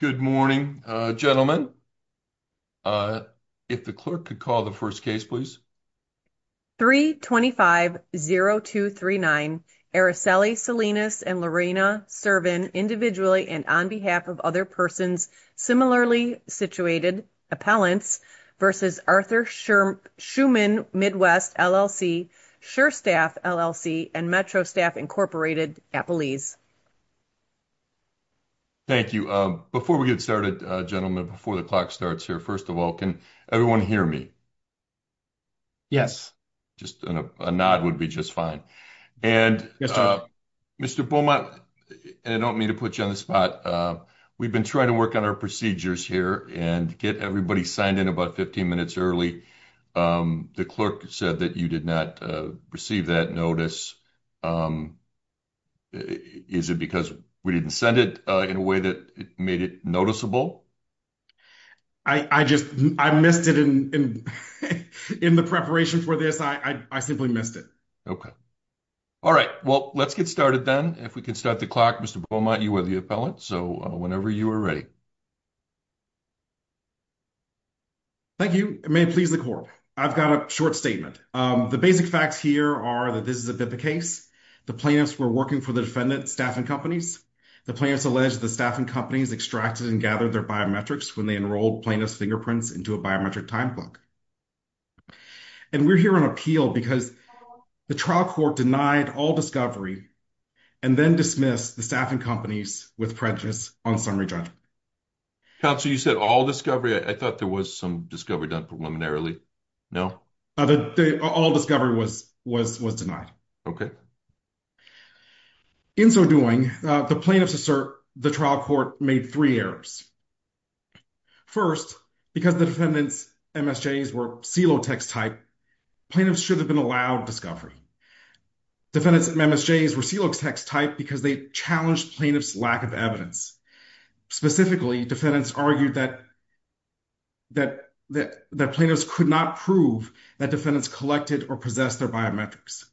Good morning, gentlemen. If the clerk could call the first case, please. 325-0239, Araceli Salinas and Lorena Servin, individually and on behalf of other persons, similarly situated, Appellants v. Arthur Schuman Midwest, LLC, Sure Staff, LLC, and Metro Staff, Incorporated, Appelese. Thank you. Before we get started, gentlemen, before the clock starts here, first of all, can everyone hear me? Yes, just a nod would be just fine. And Mr. Beaumont, I don't mean to put you on the spot. We've been trying to work on our procedures here and get everybody signed in about 15 minutes early. The clerk said that you did not receive that notice. Is it because we didn't send it in a way that made it noticeable? I just, I missed it in the preparation for this. I simply missed it. Okay. All right, well, let's get started then. If we can start the clock, Mr. Beaumont, you are the appellant, so whenever you are ready. Thank you. May it please the court. I've got a short statement. The basic facts here are that this is a BIPA case. The plaintiffs were working for the defendant's staffing companies. The plaintiffs alleged the staffing companies extracted and gathered their biometrics when they enrolled plaintiff's fingerprints into a biometric time clock. And we're here on appeal because the trial court denied all discovery. And then dismiss the staffing companies with prejudice on summary judgment. Counsel, you said all discovery. I thought there was some discovery done preliminarily. No, all discovery was denied. Okay. In so doing, the plaintiffs assert the trial court made 3 errors. First, because the defendants MSJs were silo text type. Plaintiffs should have been allowed discovery. Defendants MSJs were silo text type because they challenged plaintiff's lack of evidence. Specifically, defendants argued that plaintiffs could not prove that defendants collected or possessed their biometrics.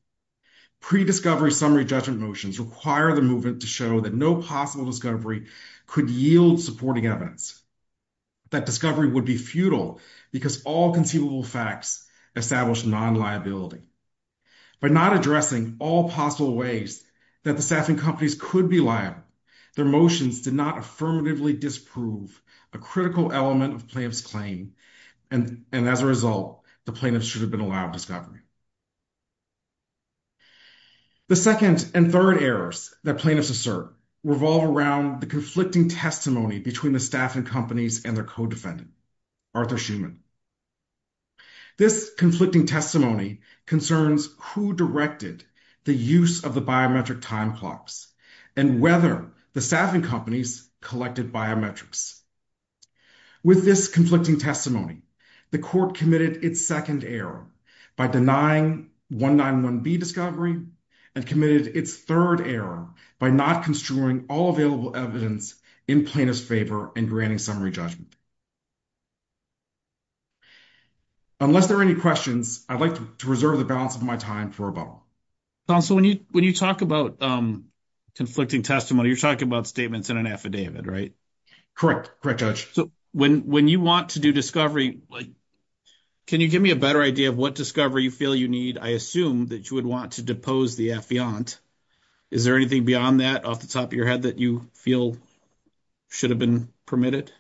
Pre-discovery summary judgment motions require the movement to show that no possible discovery could yield supporting evidence. That discovery would be futile because all conceivable facts established non-liability. By not addressing all possible ways that the staffing companies could be liable, their motions did not affirmatively disprove a critical element of plaintiff's claim. And as a result, the plaintiffs should have been allowed discovery. The second and third errors that plaintiffs assert revolve around the conflicting testimony between the staffing companies and their co-defendant, Arthur Schuman. This conflicting testimony concerns who directed the use of the biometric time clocks and whether the staffing companies collected biometrics. With this conflicting testimony, the court committed its second error by denying 191B discovery and committed its third error by not construing all available evidence in plaintiff's favor and granting summary judgment. Unless there are any questions, I'd like to reserve the balance of my time for a bubble. Counsel, when you talk about conflicting testimony, you're talking about statements in an affidavit, right? Correct. Correct. Judge. So, when you want to do discovery, can you give me a better idea of what discovery you feel you need? I assume that you would want to depose the affiant. Is there anything beyond that off the top of your head that you feel should have been permitted?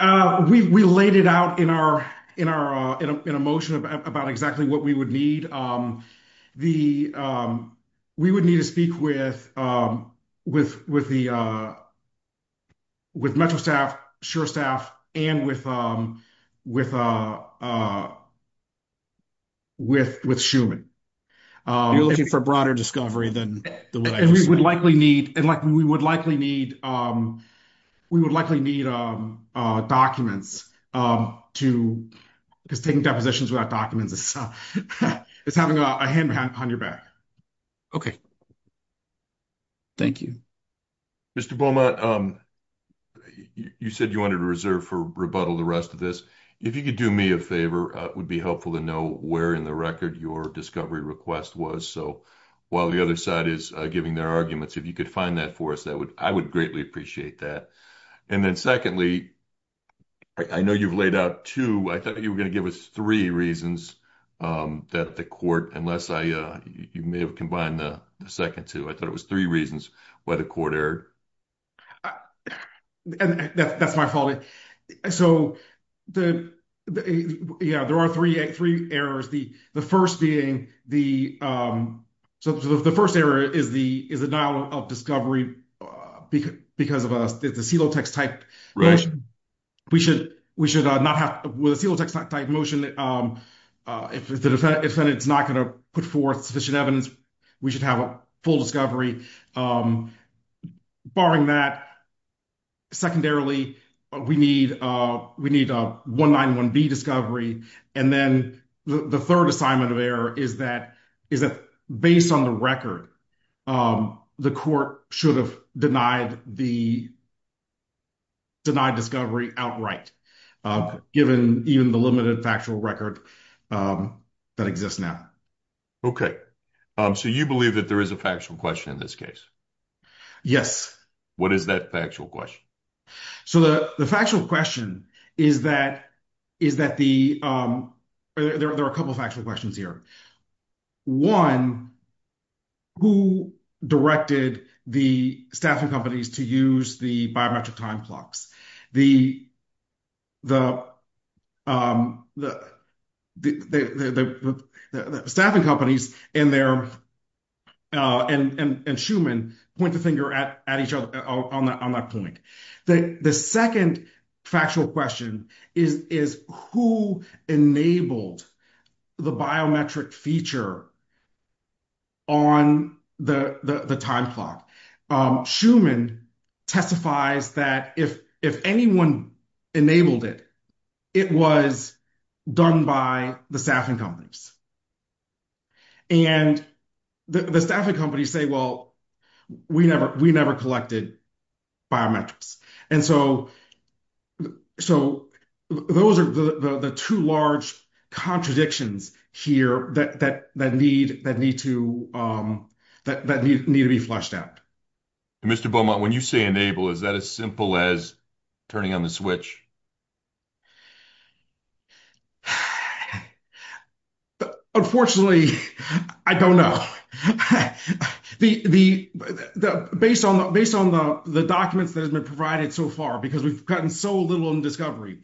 We laid it out in a motion about exactly what we would need. We would need to speak with Metro staff, SHURE staff, and with Schuman. You're looking for broader discovery than what I just mentioned. We would likely need documents because taking depositions without documents is having a hand on your back. Okay. Thank you. Mr. Beaumont, you said you wanted to reserve for rebuttal the rest of this. If you could do me a favor, it would be helpful to know where in the record your discovery request was. While the other side is giving their arguments, if you could find that for us, I would greatly appreciate that. And then secondly, I know you've laid out two, I thought you were going to give us three reasons that the court, unless you may have combined the second two, I thought it was three reasons why the court erred. And that's my fault. So, yeah, there are three errors. The first being the, so the first error is the denial of discovery because of a celotex type motion. We should not have, with a celotex type motion, if the defendant is not going to put forth sufficient evidence, we should have a full discovery. Barring that, secondarily, we need a 191B discovery. And then the third assignment of error is that, is that based on the record, the court should have denied the, denied discovery outright, given even the limited factual record that exists now. Okay. So you believe that there is a factual question in this case? Yes. What is that factual question? So the factual question is that, is that the, there are a couple of factual questions here. One, who directed the staffing companies to use the biometric time clocks? The, the, the, the, the, the, the, the staffing companies and their, and, and, and Schuman point the finger at, at each other on that, on that point. The, the second factual question is, is who enabled the biometric feature on the, the, the time clock? Schuman testifies that if, if anyone enabled it, it was done by the staffing companies. And the staffing companies say, well, we never, we never collected biometrics. And so, so those are the, the, the two large contradictions here that, that, that need, that need to that, that need to be flushed out. Mr. Beaumont, when you say enable, is that as simple as turning on the switch? Unfortunately, I don't know. The, the, the, the, based on, based on the, the documents that has been provided so far, because we've gotten so little in discovery,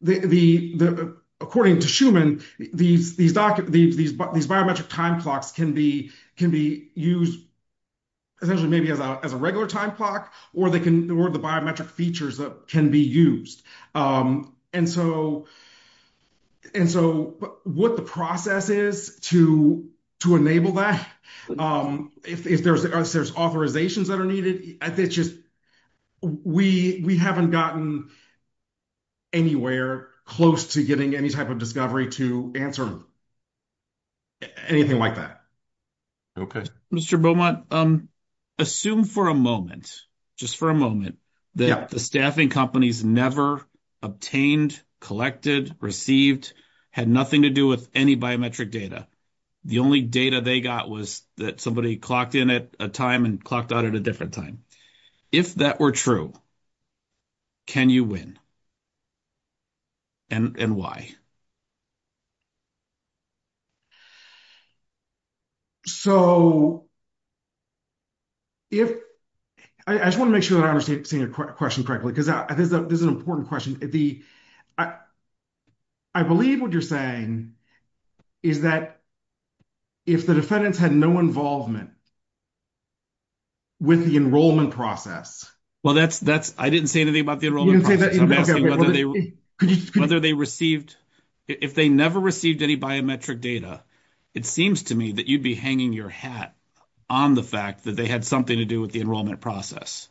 the, the, the, according to Schuman, these, these, these, these biometric time clocks can be, can be used essentially maybe as a, as a regular time clock, or they can, or the biometric features that can be used. And so, and so what the process is to, to enable that, if there's, there's authorizations that are needed, I think it's just, we, we haven't gotten anywhere close to getting any type of discovery to answer anything like that. Okay. Mr. Beaumont, assume for a moment, just for a moment, that the staffing companies never obtained, collected, received, had nothing to do with any biometric data. The only data they got was that somebody clocked in at a time and clocked out at a different time. If that were true, can you win? And, and why? So, if, I just want to make sure that I understand seeing a question correctly, because this is an important question. The, I, I believe what you're saying is that if the defendants had no involvement with the enrollment process. Well, that's, that's, I didn't say anything about the enrollment process. I'm asking whether they, whether they received, if they never received any biometric data, it seems to me that you'd be hanging your hat on the fact that they had something to do with the enrollment process.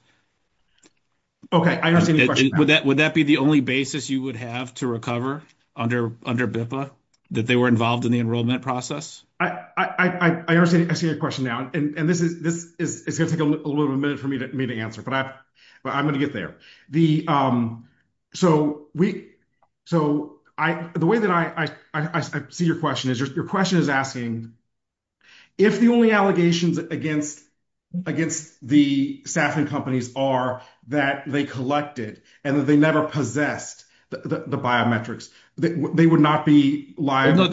Okay. I understand. Would that, would that be the only basis you would have to recover under, under BIPA, that they were involved in the enrollment process? I, I, I understand. I see your question now, and this is, this is, it's going to take a little bit of a minute for me to, me to answer, but I, but I'm going to get there. The, so we, so I, the way that I, I, I see your question is, your question is asking if the only allegations against, against the staffing companies are that they collected and that they never possessed the biometrics, that they would not be liable.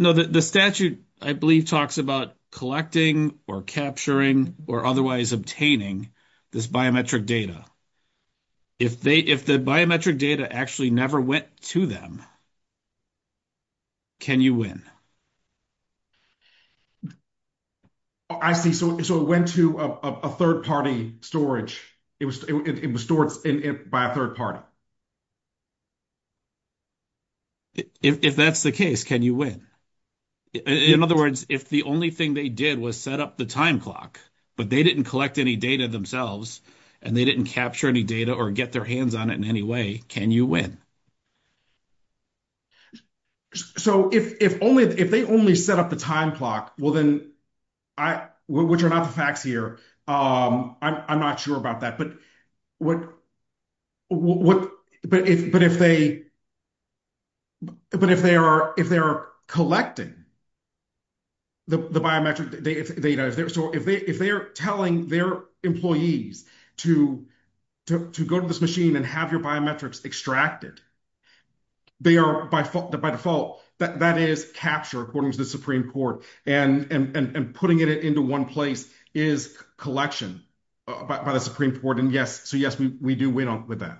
No, the statute, I believe, talks about collecting or capturing or otherwise obtaining this biometric data. If they, if the biometric data actually never went to them, can you win? I see. So, so it went to a third-party storage. It was, it was stored in it by a third party. If that's the case, can you win? In other words, if the only thing they did was set up the time clock, but they didn't collect any data themselves, and they didn't capture any data or get their hands on it in any way, can you win? So, if, if only, if they only set up the time clock, well, then I, which are not the facts here, I'm, I'm not sure about that, but what, what, but if, but if they, but if they are, if they're collecting the biometric data, if they're, so if they, if they're telling their employees to, to, to go to this machine and have your biometrics extracted, they are by default, by default, that, that is capture according to the Supreme Court and, and, and putting it into one place is collection by the Supreme Court. And yes, so yes, we, we do win with that.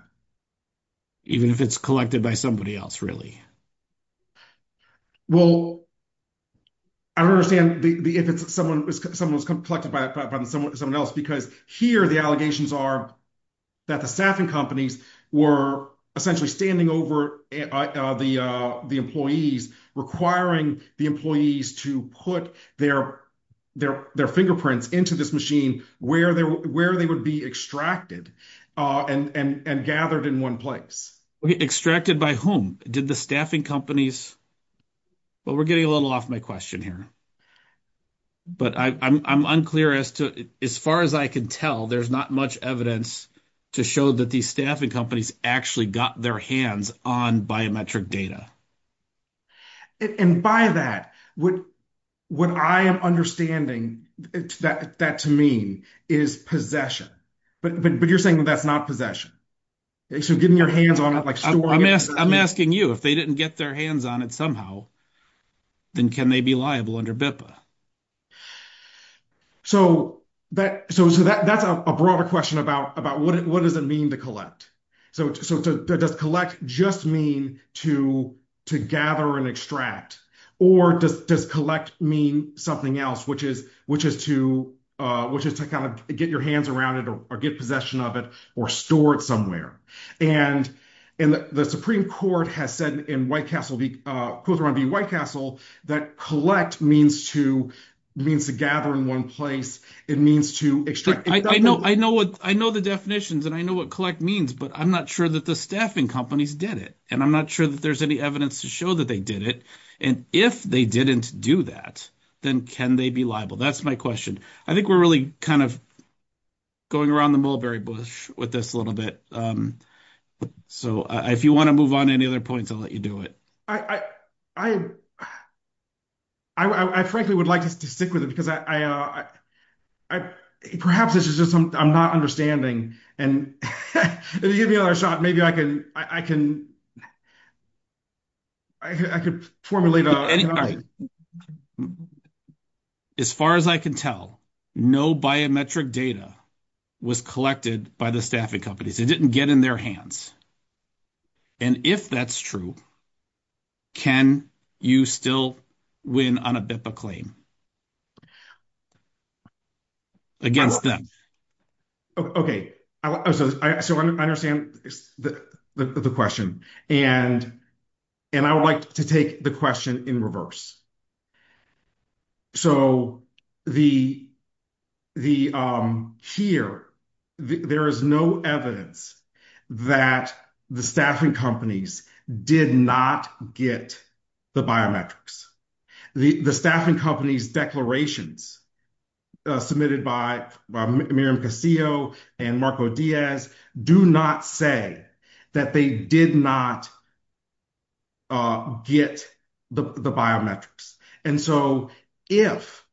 Even if it's collected by somebody else, really? Well, I don't understand the, the, if it's someone, someone was collected by someone else, because here the allegations are that the staffing companies were essentially standing over the, the employees requiring the employees to put their, their, their fingerprints into this machine where they were, where they would be extracted and, and, and gathered in one place. Extracted by whom? Did the staffing companies, well, we're getting a little off my question here, but I, I'm, I'm unclear as to, as far as I can tell, there's not much evidence to show that these staffing companies actually got their hands on biometric data. And by that, what, what I am understanding that, that to mean is possession, but, but, but you're saying that that's not possession. So getting your hands on it, like storing it. I'm asking you, if they didn't get their hands on it somehow, then can they be liable under BIPA? So that, so, so that, that's a broader question about, about what, what does it mean to collect? So, so does collect just mean to, to gather and extract or does, does collect mean something else, which is, which is to, which is to kind of get your hands around it or get possession of it or store it somewhere. And, and the Supreme Court has said in White Castle, both around the White Castle that collect means to, means to gather in one place. It means to extract. I know, I know what, I know the definitions and I know what collect means, but I'm not sure that the staffing companies did it. And I'm not sure that there's any evidence to show that they did it. And if they didn't do that, then can they be liable? That's my question. I think we're really kind of going around the mulberry bush with this a little bit. So if you want to move on to any other points, I'll let you do it. I, I, I, I, I frankly would like to stick with it because I, I, I, perhaps this is just some, I'm not understanding and if you give me another shot, maybe I can, I can, I could formulate. As far as I can tell, no biometric data was collected by the staffing companies. It didn't get in their hands. And if that's true, can you still win on a BIPA claim against them? Okay. So I understand the question and, and I would like to take the question in reverse. So the, the here, there is no evidence that the staffing companies did not get the biometrics. The, the staffing companies declarations submitted by Miriam Casio and Marco Diaz do not say that they did not get the biometrics. And so if,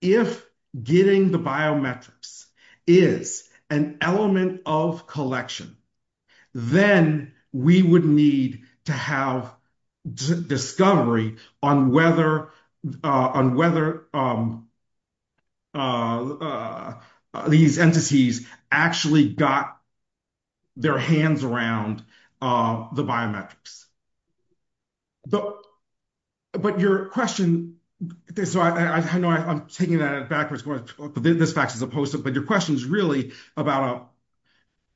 if getting the biometrics is an element of collection, then we would need to have discovery on whether, on whether these entities actually got their hands around the biometrics. But, but your question, so I know I'm taking that backwards, but this fact is opposed to, but your question is really about,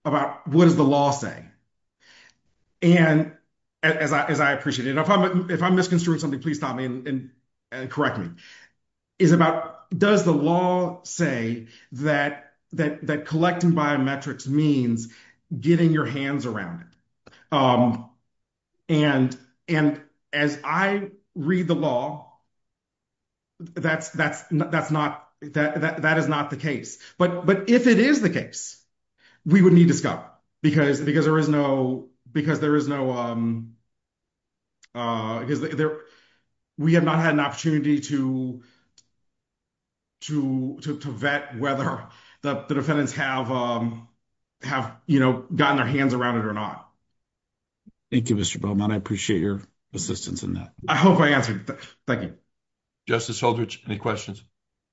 about what does the law say? And as I, as I appreciate it, if I'm, if I'm misconstruing something, please stop me and correct me. It's about, does the law say that, that, that collecting biometrics means getting your hands around it? And, and as I read the law, that's, that's, that's not, that, that, that is not the case. But, but if it is the case, we would need discovery because, because there is no, because there is no, because there, we have not had an opportunity to, to, to, to vet whether the defendants have, have, you know, gotten their hands around it or not. Thank you, Mr. Beaumont. I appreciate your assistance in that. I hope I answered. Thank you. Justice Holdridge, any questions?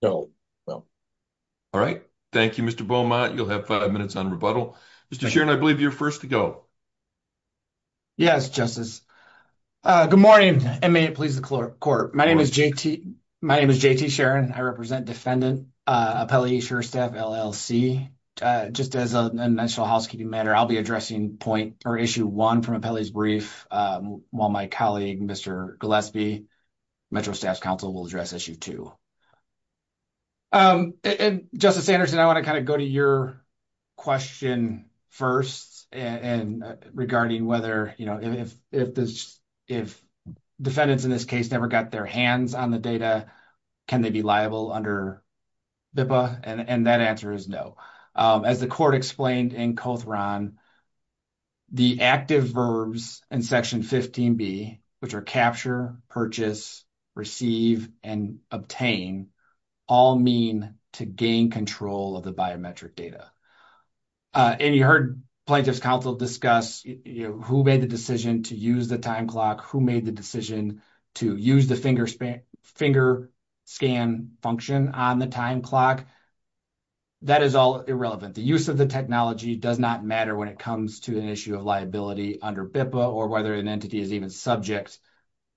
No, no. All right. Thank you, Mr. Beaumont. You'll have five minutes on rebuttal. Mr. Sheeran, I believe you're first to go. Yes, Justice. Good morning, and may it please the court. My name is JT, my name is JT Sheeran. I represent Defendant Appellee Sheerstaff, LLC. Just as a national housekeeping matter, I'll be addressing point, or issue one from Appellee's brief, while my colleague, Mr. Gillespie, Metro Staffs Council, will address issue two. And Justice Sanderson, I want to kind of go to your question first, and regarding whether, you know, if, if this, if defendants in this case never got their hands on the data, can they be liable under BIPA? And that answer is no. As the court explained in Cothran, the active verbs in Section 15B, which are capture, purchase, receive, and obtain, all mean to gain control of the biometric data. And you heard Plaintiff's Council discuss, you know, who made the decision to use the time clock, who made the decision to use the finger span, finger scan function on the time clock. That is all irrelevant. The use of the technology does not matter when it comes to an issue of liability under BIPA, or whether an entity is even subject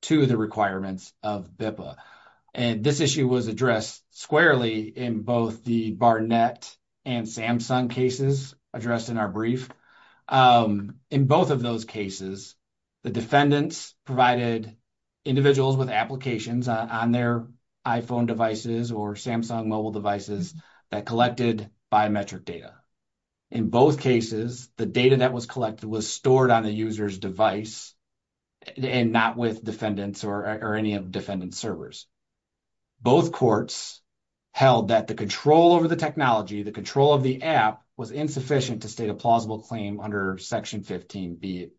to the requirements of BIPA. And this issue was addressed squarely in both the Barnett and Samsung cases addressed in our brief. In both of those cases, the defendants provided individuals with applications on their iPhone devices or Samsung mobile devices that collected biometric data. In both cases, the data that was collected was stored on the user's device and not with defendants or any of defendant's servers. Both courts held that the control over the technology, the control of the app was insufficient to state a plausible claim under Section 15B.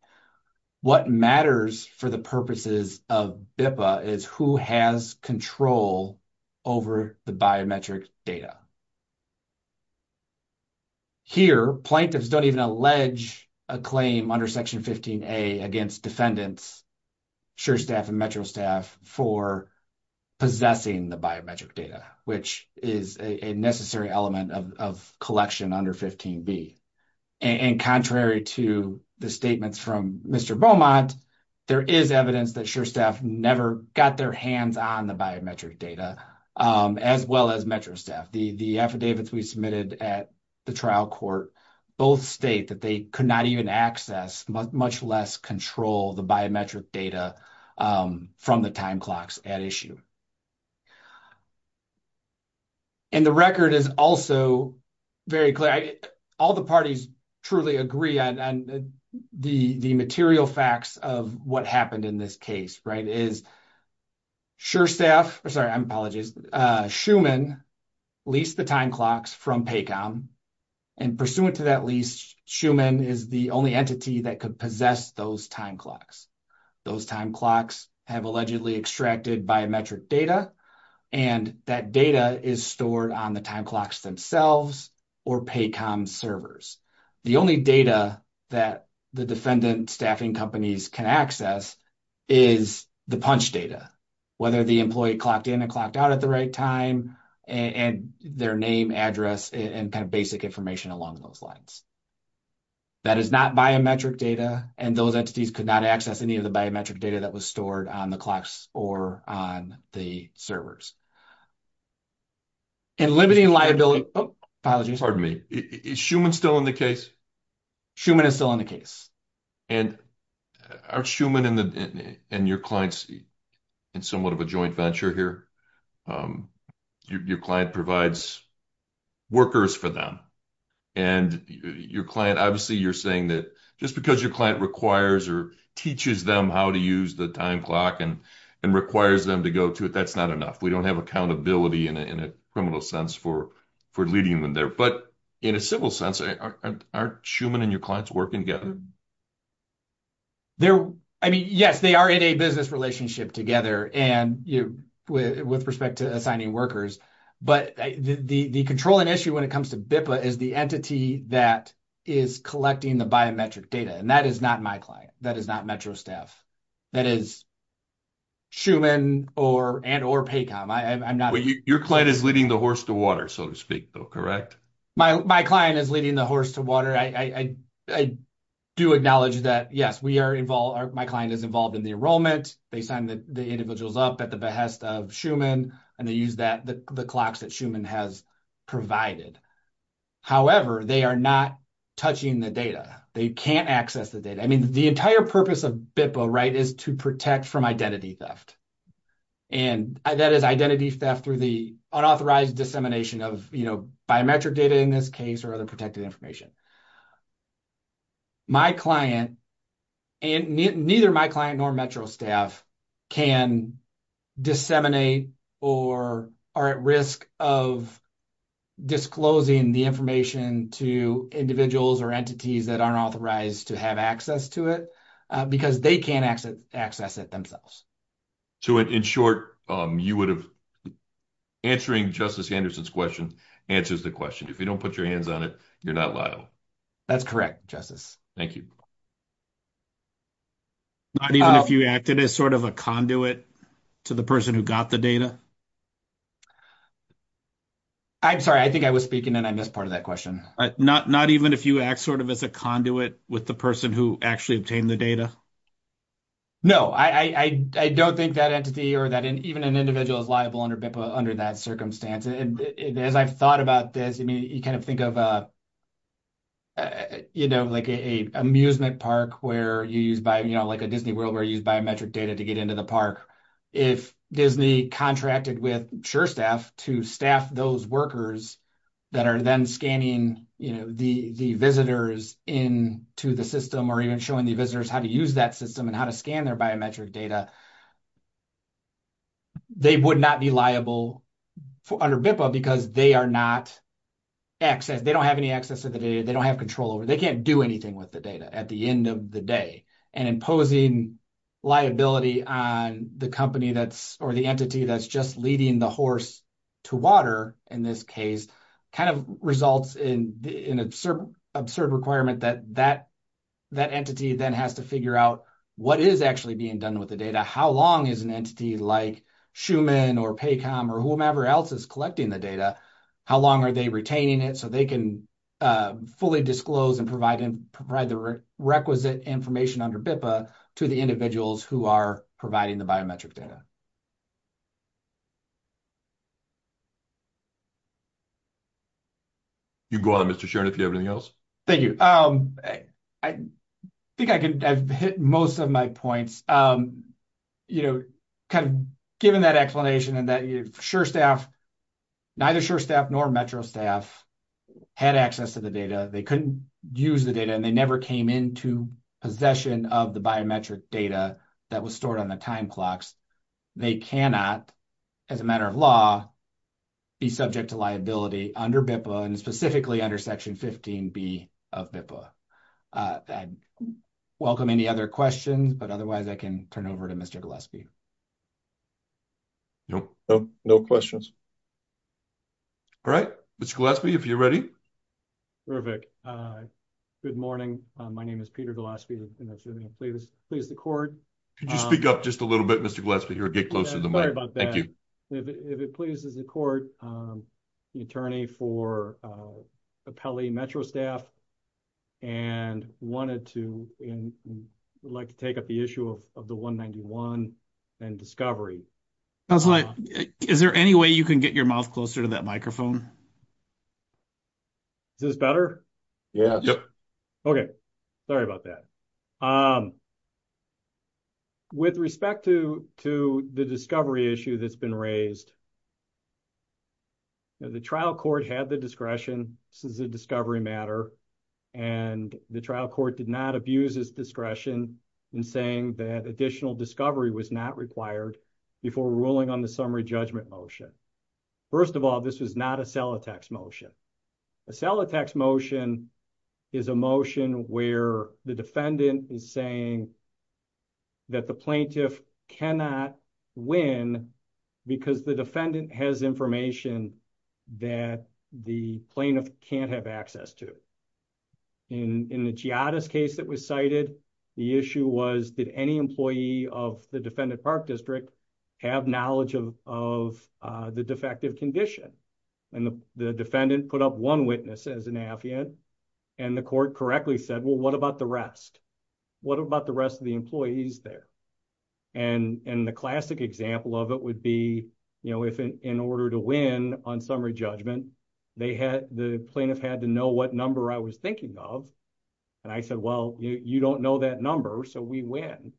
What matters for the purposes of BIPA is who has control over the biometric data. Here, plaintiffs don't even allege a claim under Section 15A against defendants, sure staff and metro staff, for possessing the biometric data, which is a necessary element of collection under 15B. And contrary to the statements from Mr. Beaumont, there is evidence that sure staff never got their hands on the biometric data, as well as metro staff. The affidavits we submitted at the trial court both state that they could not even access, much less control, the biometric data from the time clocks at issue. And the record is also very clear. All the parties truly agree on the material facts of what happened in this case. Sure staff, I'm sorry, I apologize, Schumann leased the time clocks from PACOM, and pursuant to that lease, Schumann is the only entity that could possess those time clocks. Those time clocks have allegedly extracted biometric data, and that data is stored on the time clocks themselves or PACOM servers. The only data that the defendant staffing companies can access is the punch data, whether the employee clocked in and clocked out at the right time, and their name, address, and kind of basic information along those lines. That is not biometric data, and those entities could not access any of the biometric data that was stored on the clocks or on the servers. In limiting liability, pardon me, is Schumann still in the case? Schumann is still in the case. And aren't Schumann and your clients in somewhat of joint venture here? Your client provides workers for them, and your client, obviously you're saying that just because your client requires or teaches them how to use the time clock and requires them to go to it, that's not enough. We don't have accountability in a criminal sense for leading them there. But in a civil sense, aren't Schumann and your clients working together? They're, I mean, yes, they are in a business relationship together with respect to assigning workers. But the controlling issue when it comes to BIPA is the entity that is collecting the biometric data, and that is not my client. That is not Metro staff. That is Schumann and or PACOM. I'm not... Well, your client is leading the horse to water, so to speak, though, correct? My client is leading the horse to water. I do acknowledge that, yes, we are involved, my client is involved in the enrollment. They sign the individuals up at the behest of Schumann, and they use the clocks that Schumann has provided. However, they are not touching the data. They can't access the data. I mean, the entire purpose of BIPA is to protect from identity theft. And that is identity theft through the unauthorized dissemination of biometric data in this case or other protected information. My client and neither my client nor Metro staff can disseminate or are at risk of disclosing the information to individuals or entities that aren't authorized to have access to it because they can't access it themselves. So, in short, you would have... Answering Justice Anderson's question answers the question. If you don't put your hands on it, you're not liable. That's correct, Justice. Thank you. Not even if you acted as sort of a conduit to the person who got the data? I'm sorry. I think I was speaking, and I missed part of that question. Not even if you act sort of as a conduit with the person who actually obtained the data? No, I don't think that entity or that even an individual is liable under BIPA under that circumstance. And as I've thought about this, I mean, you kind of think of like an amusement park where you use biometric data to get into the park. If Disney contracted with SureStaff to staff those workers that are then scanning the visitors in to the system or even showing the visitors how to use that system and how to scan their biometric data, they would not be liable under BIPA because they are not access... They don't have any access to the data. They don't have control over... They can't do anything with the data at the end of the day. And imposing liability on the company or the entity that's just leading the horse to water, in this case, kind of results in an absurd requirement that that entity then has to figure out what is actually being done with the data. How long is an entity like Schuman or Paycom or whomever else is collecting the data, how long are they retaining it so they can fully disclose and provide the requisite information under BIPA to the individuals who are providing the biometric data? You can go on, Mr. Shearn, if you have anything else. Thank you. I think I've hit most of my points. You know, kind of given that explanation and that SureStaff, neither SureStaff nor Metro staff had access to the data. They couldn't use the data and they came into possession of the biometric data that was stored on the time clocks. They cannot, as a matter of law, be subject to liability under BIPA and specifically under Section 15B of BIPA. I'd welcome any other questions, but otherwise I can turn it over to Mr. Gillespie. No questions. All right. Mr. Gillespie, if you're ready. Perfect. Good morning. My name is Peter Gillespie, and I assume you'll please the court. Could you speak up just a little bit, Mr. Gillespie, or get closer to the mic? Sorry about that. Thank you. If it pleases the court, I'm the attorney for Appelli Metro staff and wanted to, would like to take up the issue of the 191 and Discovery. Is there any way you can get your mouth closer to that microphone? Is this better? Yes. Okay. Sorry about that. With respect to the Discovery issue that's been raised, the trial court had the discretion, this is a Discovery matter, and the trial court did not abuse its discretion in saying that additional Discovery was not required before ruling on the sell-a-tax motion. A sell-a-tax motion is a motion where the defendant is saying that the plaintiff cannot win because the defendant has information that the plaintiff can't have access to. In the Giada's case that was cited, the issue was did any employee of the defendant park district have knowledge of the defective condition? The defendant put up one witness as an affiant, and the court correctly said, well, what about the rest? What about the rest of the employees there? The classic example of it would be if in order to win on summary judgment, the plaintiff had to know what number I was thinking of, and I said, well, you don't know that number, so we win.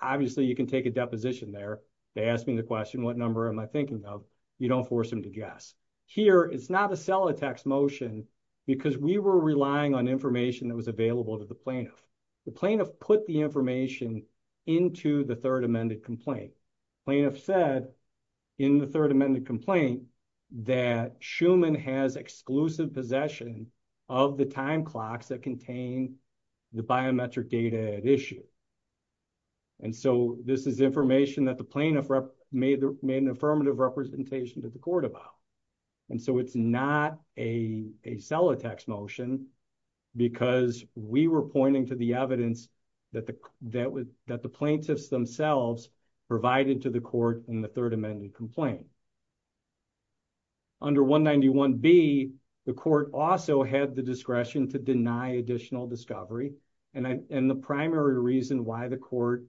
Obviously, you can take a deposition there. They ask me the question, what number am I thinking of? You don't force them to guess. Here, it's not a sell-a-tax motion because we were relying on information that was available to the plaintiff. The plaintiff put the information into the third amended complaint. Plaintiff said in the third amended complaint that Schumann has exclusive possession of the time clocks that contain the biometric data at issue. This is information that the plaintiff made an affirmative representation to the court about, and so it's not a sell-a-tax motion because we were pointing to the evidence that the plaintiffs themselves provided to the court in the third amended complaint. Under 191B, the court also had the discretion to deny additional discovery, and the primary reason why the court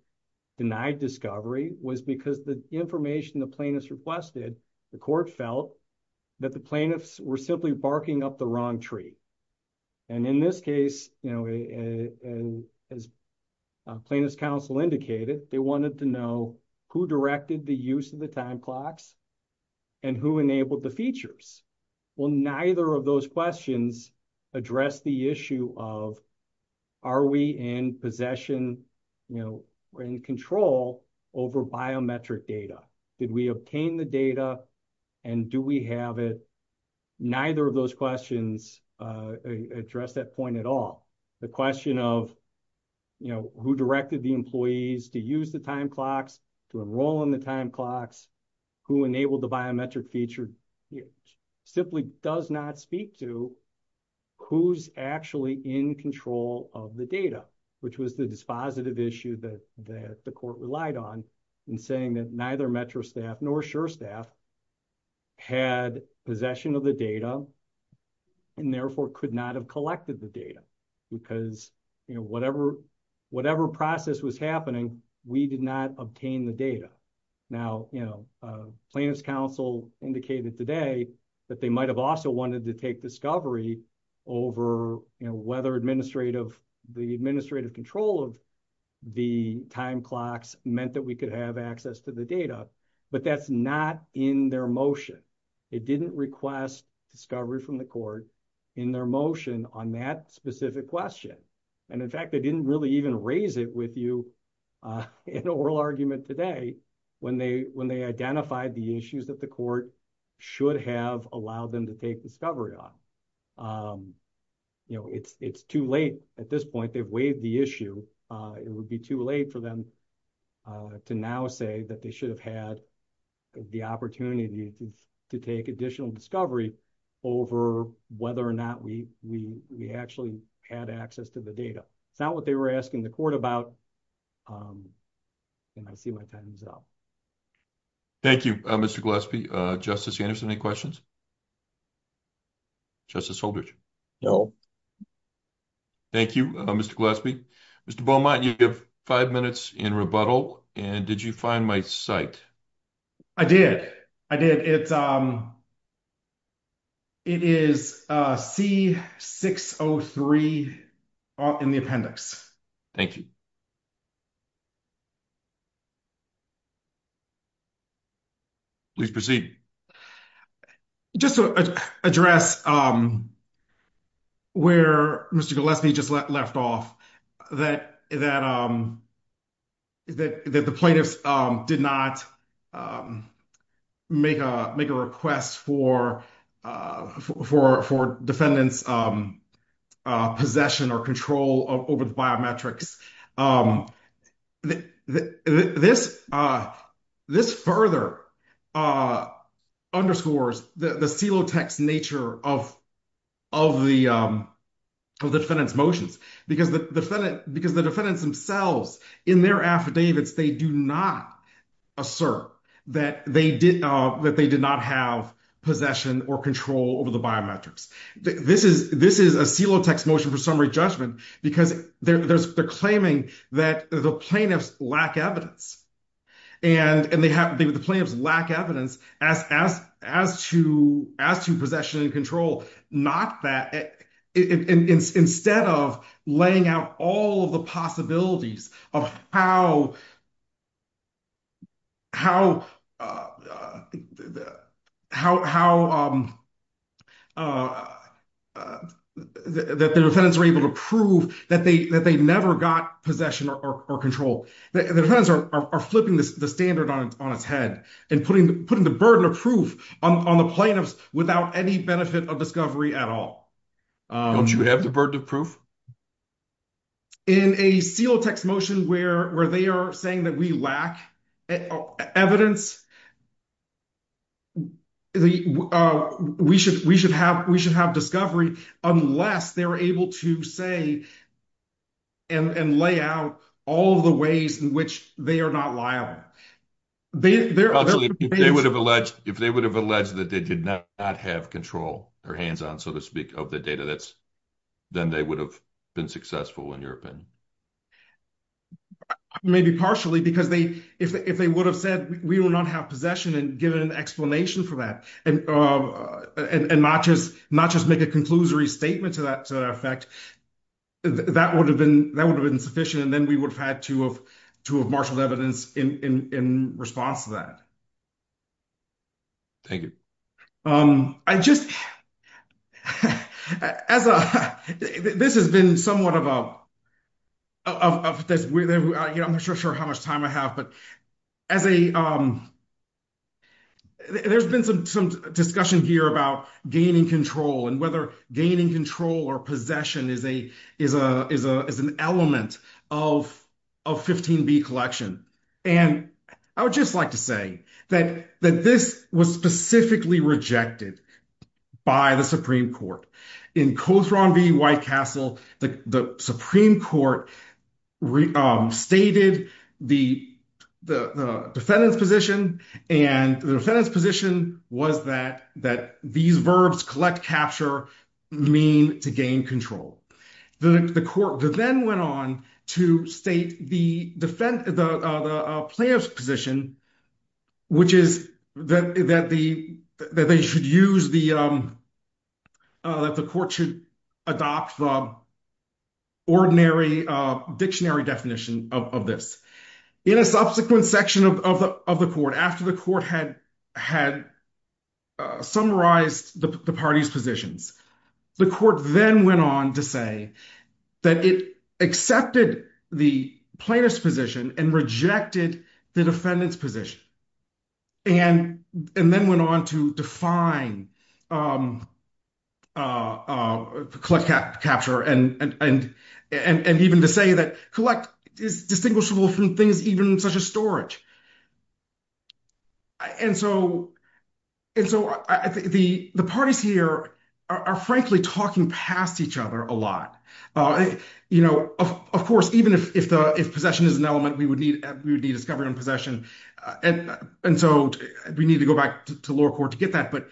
denied discovery was because the information the plaintiffs requested, the court felt that the plaintiffs were simply barking up the wrong tree. In this case, as plaintiff's counsel indicated, they wanted to know who directed the use of the time clocks and who enabled the features. Well, neither of those questions addressed the issue of, are we in possession or in control over biometric data? Did we obtain the data and do we have it? Neither of those questions address that point at all. The question of who directed the employees to use the time clocks, to enroll in the time clocks, who enabled the biometric feature, simply does not speak to who's actually in control of the data, which was the dispositive issue that the court relied on in saying that neither Metro staff nor SURE staff had possession of the data and therefore could not have collected the data because whatever process was happening, we did not obtain the data. Now, plaintiff's counsel indicated today that they might have also wanted to take discovery over whether the administrative control of the time clocks meant that we could have access to the data, but that's not in their motion. They didn't request discovery from the court in their motion on that specific question. And in fact, they didn't really even raise it with you in an oral argument today when they identified the issues that the court should have allowed them to take discovery on. It's too late at this point. They've waived the issue. It would be too late for them to now say that they should have had the opportunity to take additional discovery over whether or not we actually had access to the data. It's not what they were asking the court about, and I see my time is up. Thank you, Mr. Gillespie. Justice Anderson, any questions? Justice Holdridge? No. Thank you, Mr. Gillespie. Mr. Beaumont, you have five minutes in rebuttal, and did you find my site? I did. It is C-603 in the appendix. Thank you. Please proceed. Just to address where Mr. Gillespie just left off, that the plaintiffs did not make a request for defendants' possession or control over the biometrics. Because the defendants themselves, in their affidavits, they do not assert that they did not have possession or control over the biometrics. This is a silo text motion for summary judgment because they're claiming that the plaintiffs lack evidence, and the plaintiffs lack evidence as to possession and control. Instead of laying out all of the possibilities of how the defendants were able to prove that they never got possession or control, the defendants are flipping the standard on its head and putting the burden of proof on the plaintiffs without any benefit of discovery at all. Don't you have the burden of proof? In a silo text motion where they are saying that we lack evidence, we should have discovery unless they're able to say and lay out all of the ways in which they are not liable. If they would have alleged that they did not have control, or hands-on, so to speak, of the data, then they would have been successful in your opinion. Maybe partially, because if they would have said we do not have possession and given an explanation for that, and not just make a conclusory statement to that effect, that would have been sufficient, and then we would have had to have marshaled evidence in response to that. Thank you. This has been somewhat of a... I'm not sure how much time I have, but as a... There's been some discussion here about gaining control and whether gaining control or possession is an element of 15b collection. I would just like to say that this was specifically rejected by the Supreme Court. In Cothron v. Whitecastle, the Supreme Court stated the defendant's position, and the defendant's position was that these verbs, collect, capture, mean to gain control. The court then went on to state the plaintiff's position, which is that the court should adopt the ordinary dictionary definition of this. In a subsequent section of the court, after the court had summarized the party's positions, the court then went on to say that it accepted the plaintiff's position and rejected the defendant's position, and then went on to define collect, capture, and even to say that collect is distinguishable from things even such as storage. And so the parties here are frankly talking past each other a lot. Of course, even if possession is an element, we would need possession. And so we need to go back to lower court to get that. But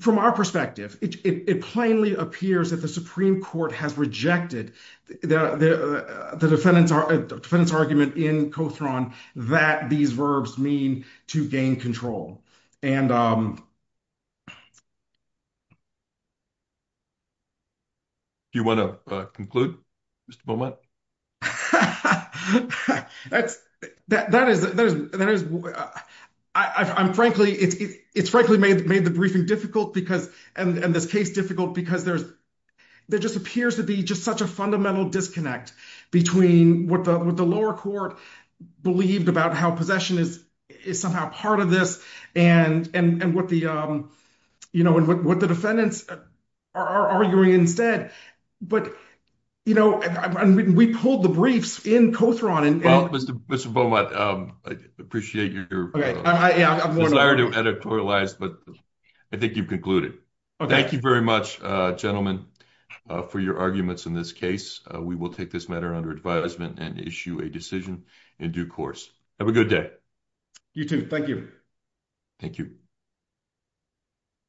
from our perspective, it plainly appears that the Supreme Court has rejected the defendant's argument in Cothron that these verbs mean to gain control. Do you want to conclude, Mr. Beaumont? It's frankly made the briefing difficult and this case difficult because there just appears to be such a fundamental disconnect between what the lower court believed about how possession is somehow part of this and what the defendants are arguing instead. But we pulled the briefs in Cothron. Well, Mr. Beaumont, I appreciate your desire to editorialize, but I think you've very much gentlemen for your arguments in this case. We will take this matter under advisement and issue a decision in due course. Have a good day. You too. Thank you. Thank you.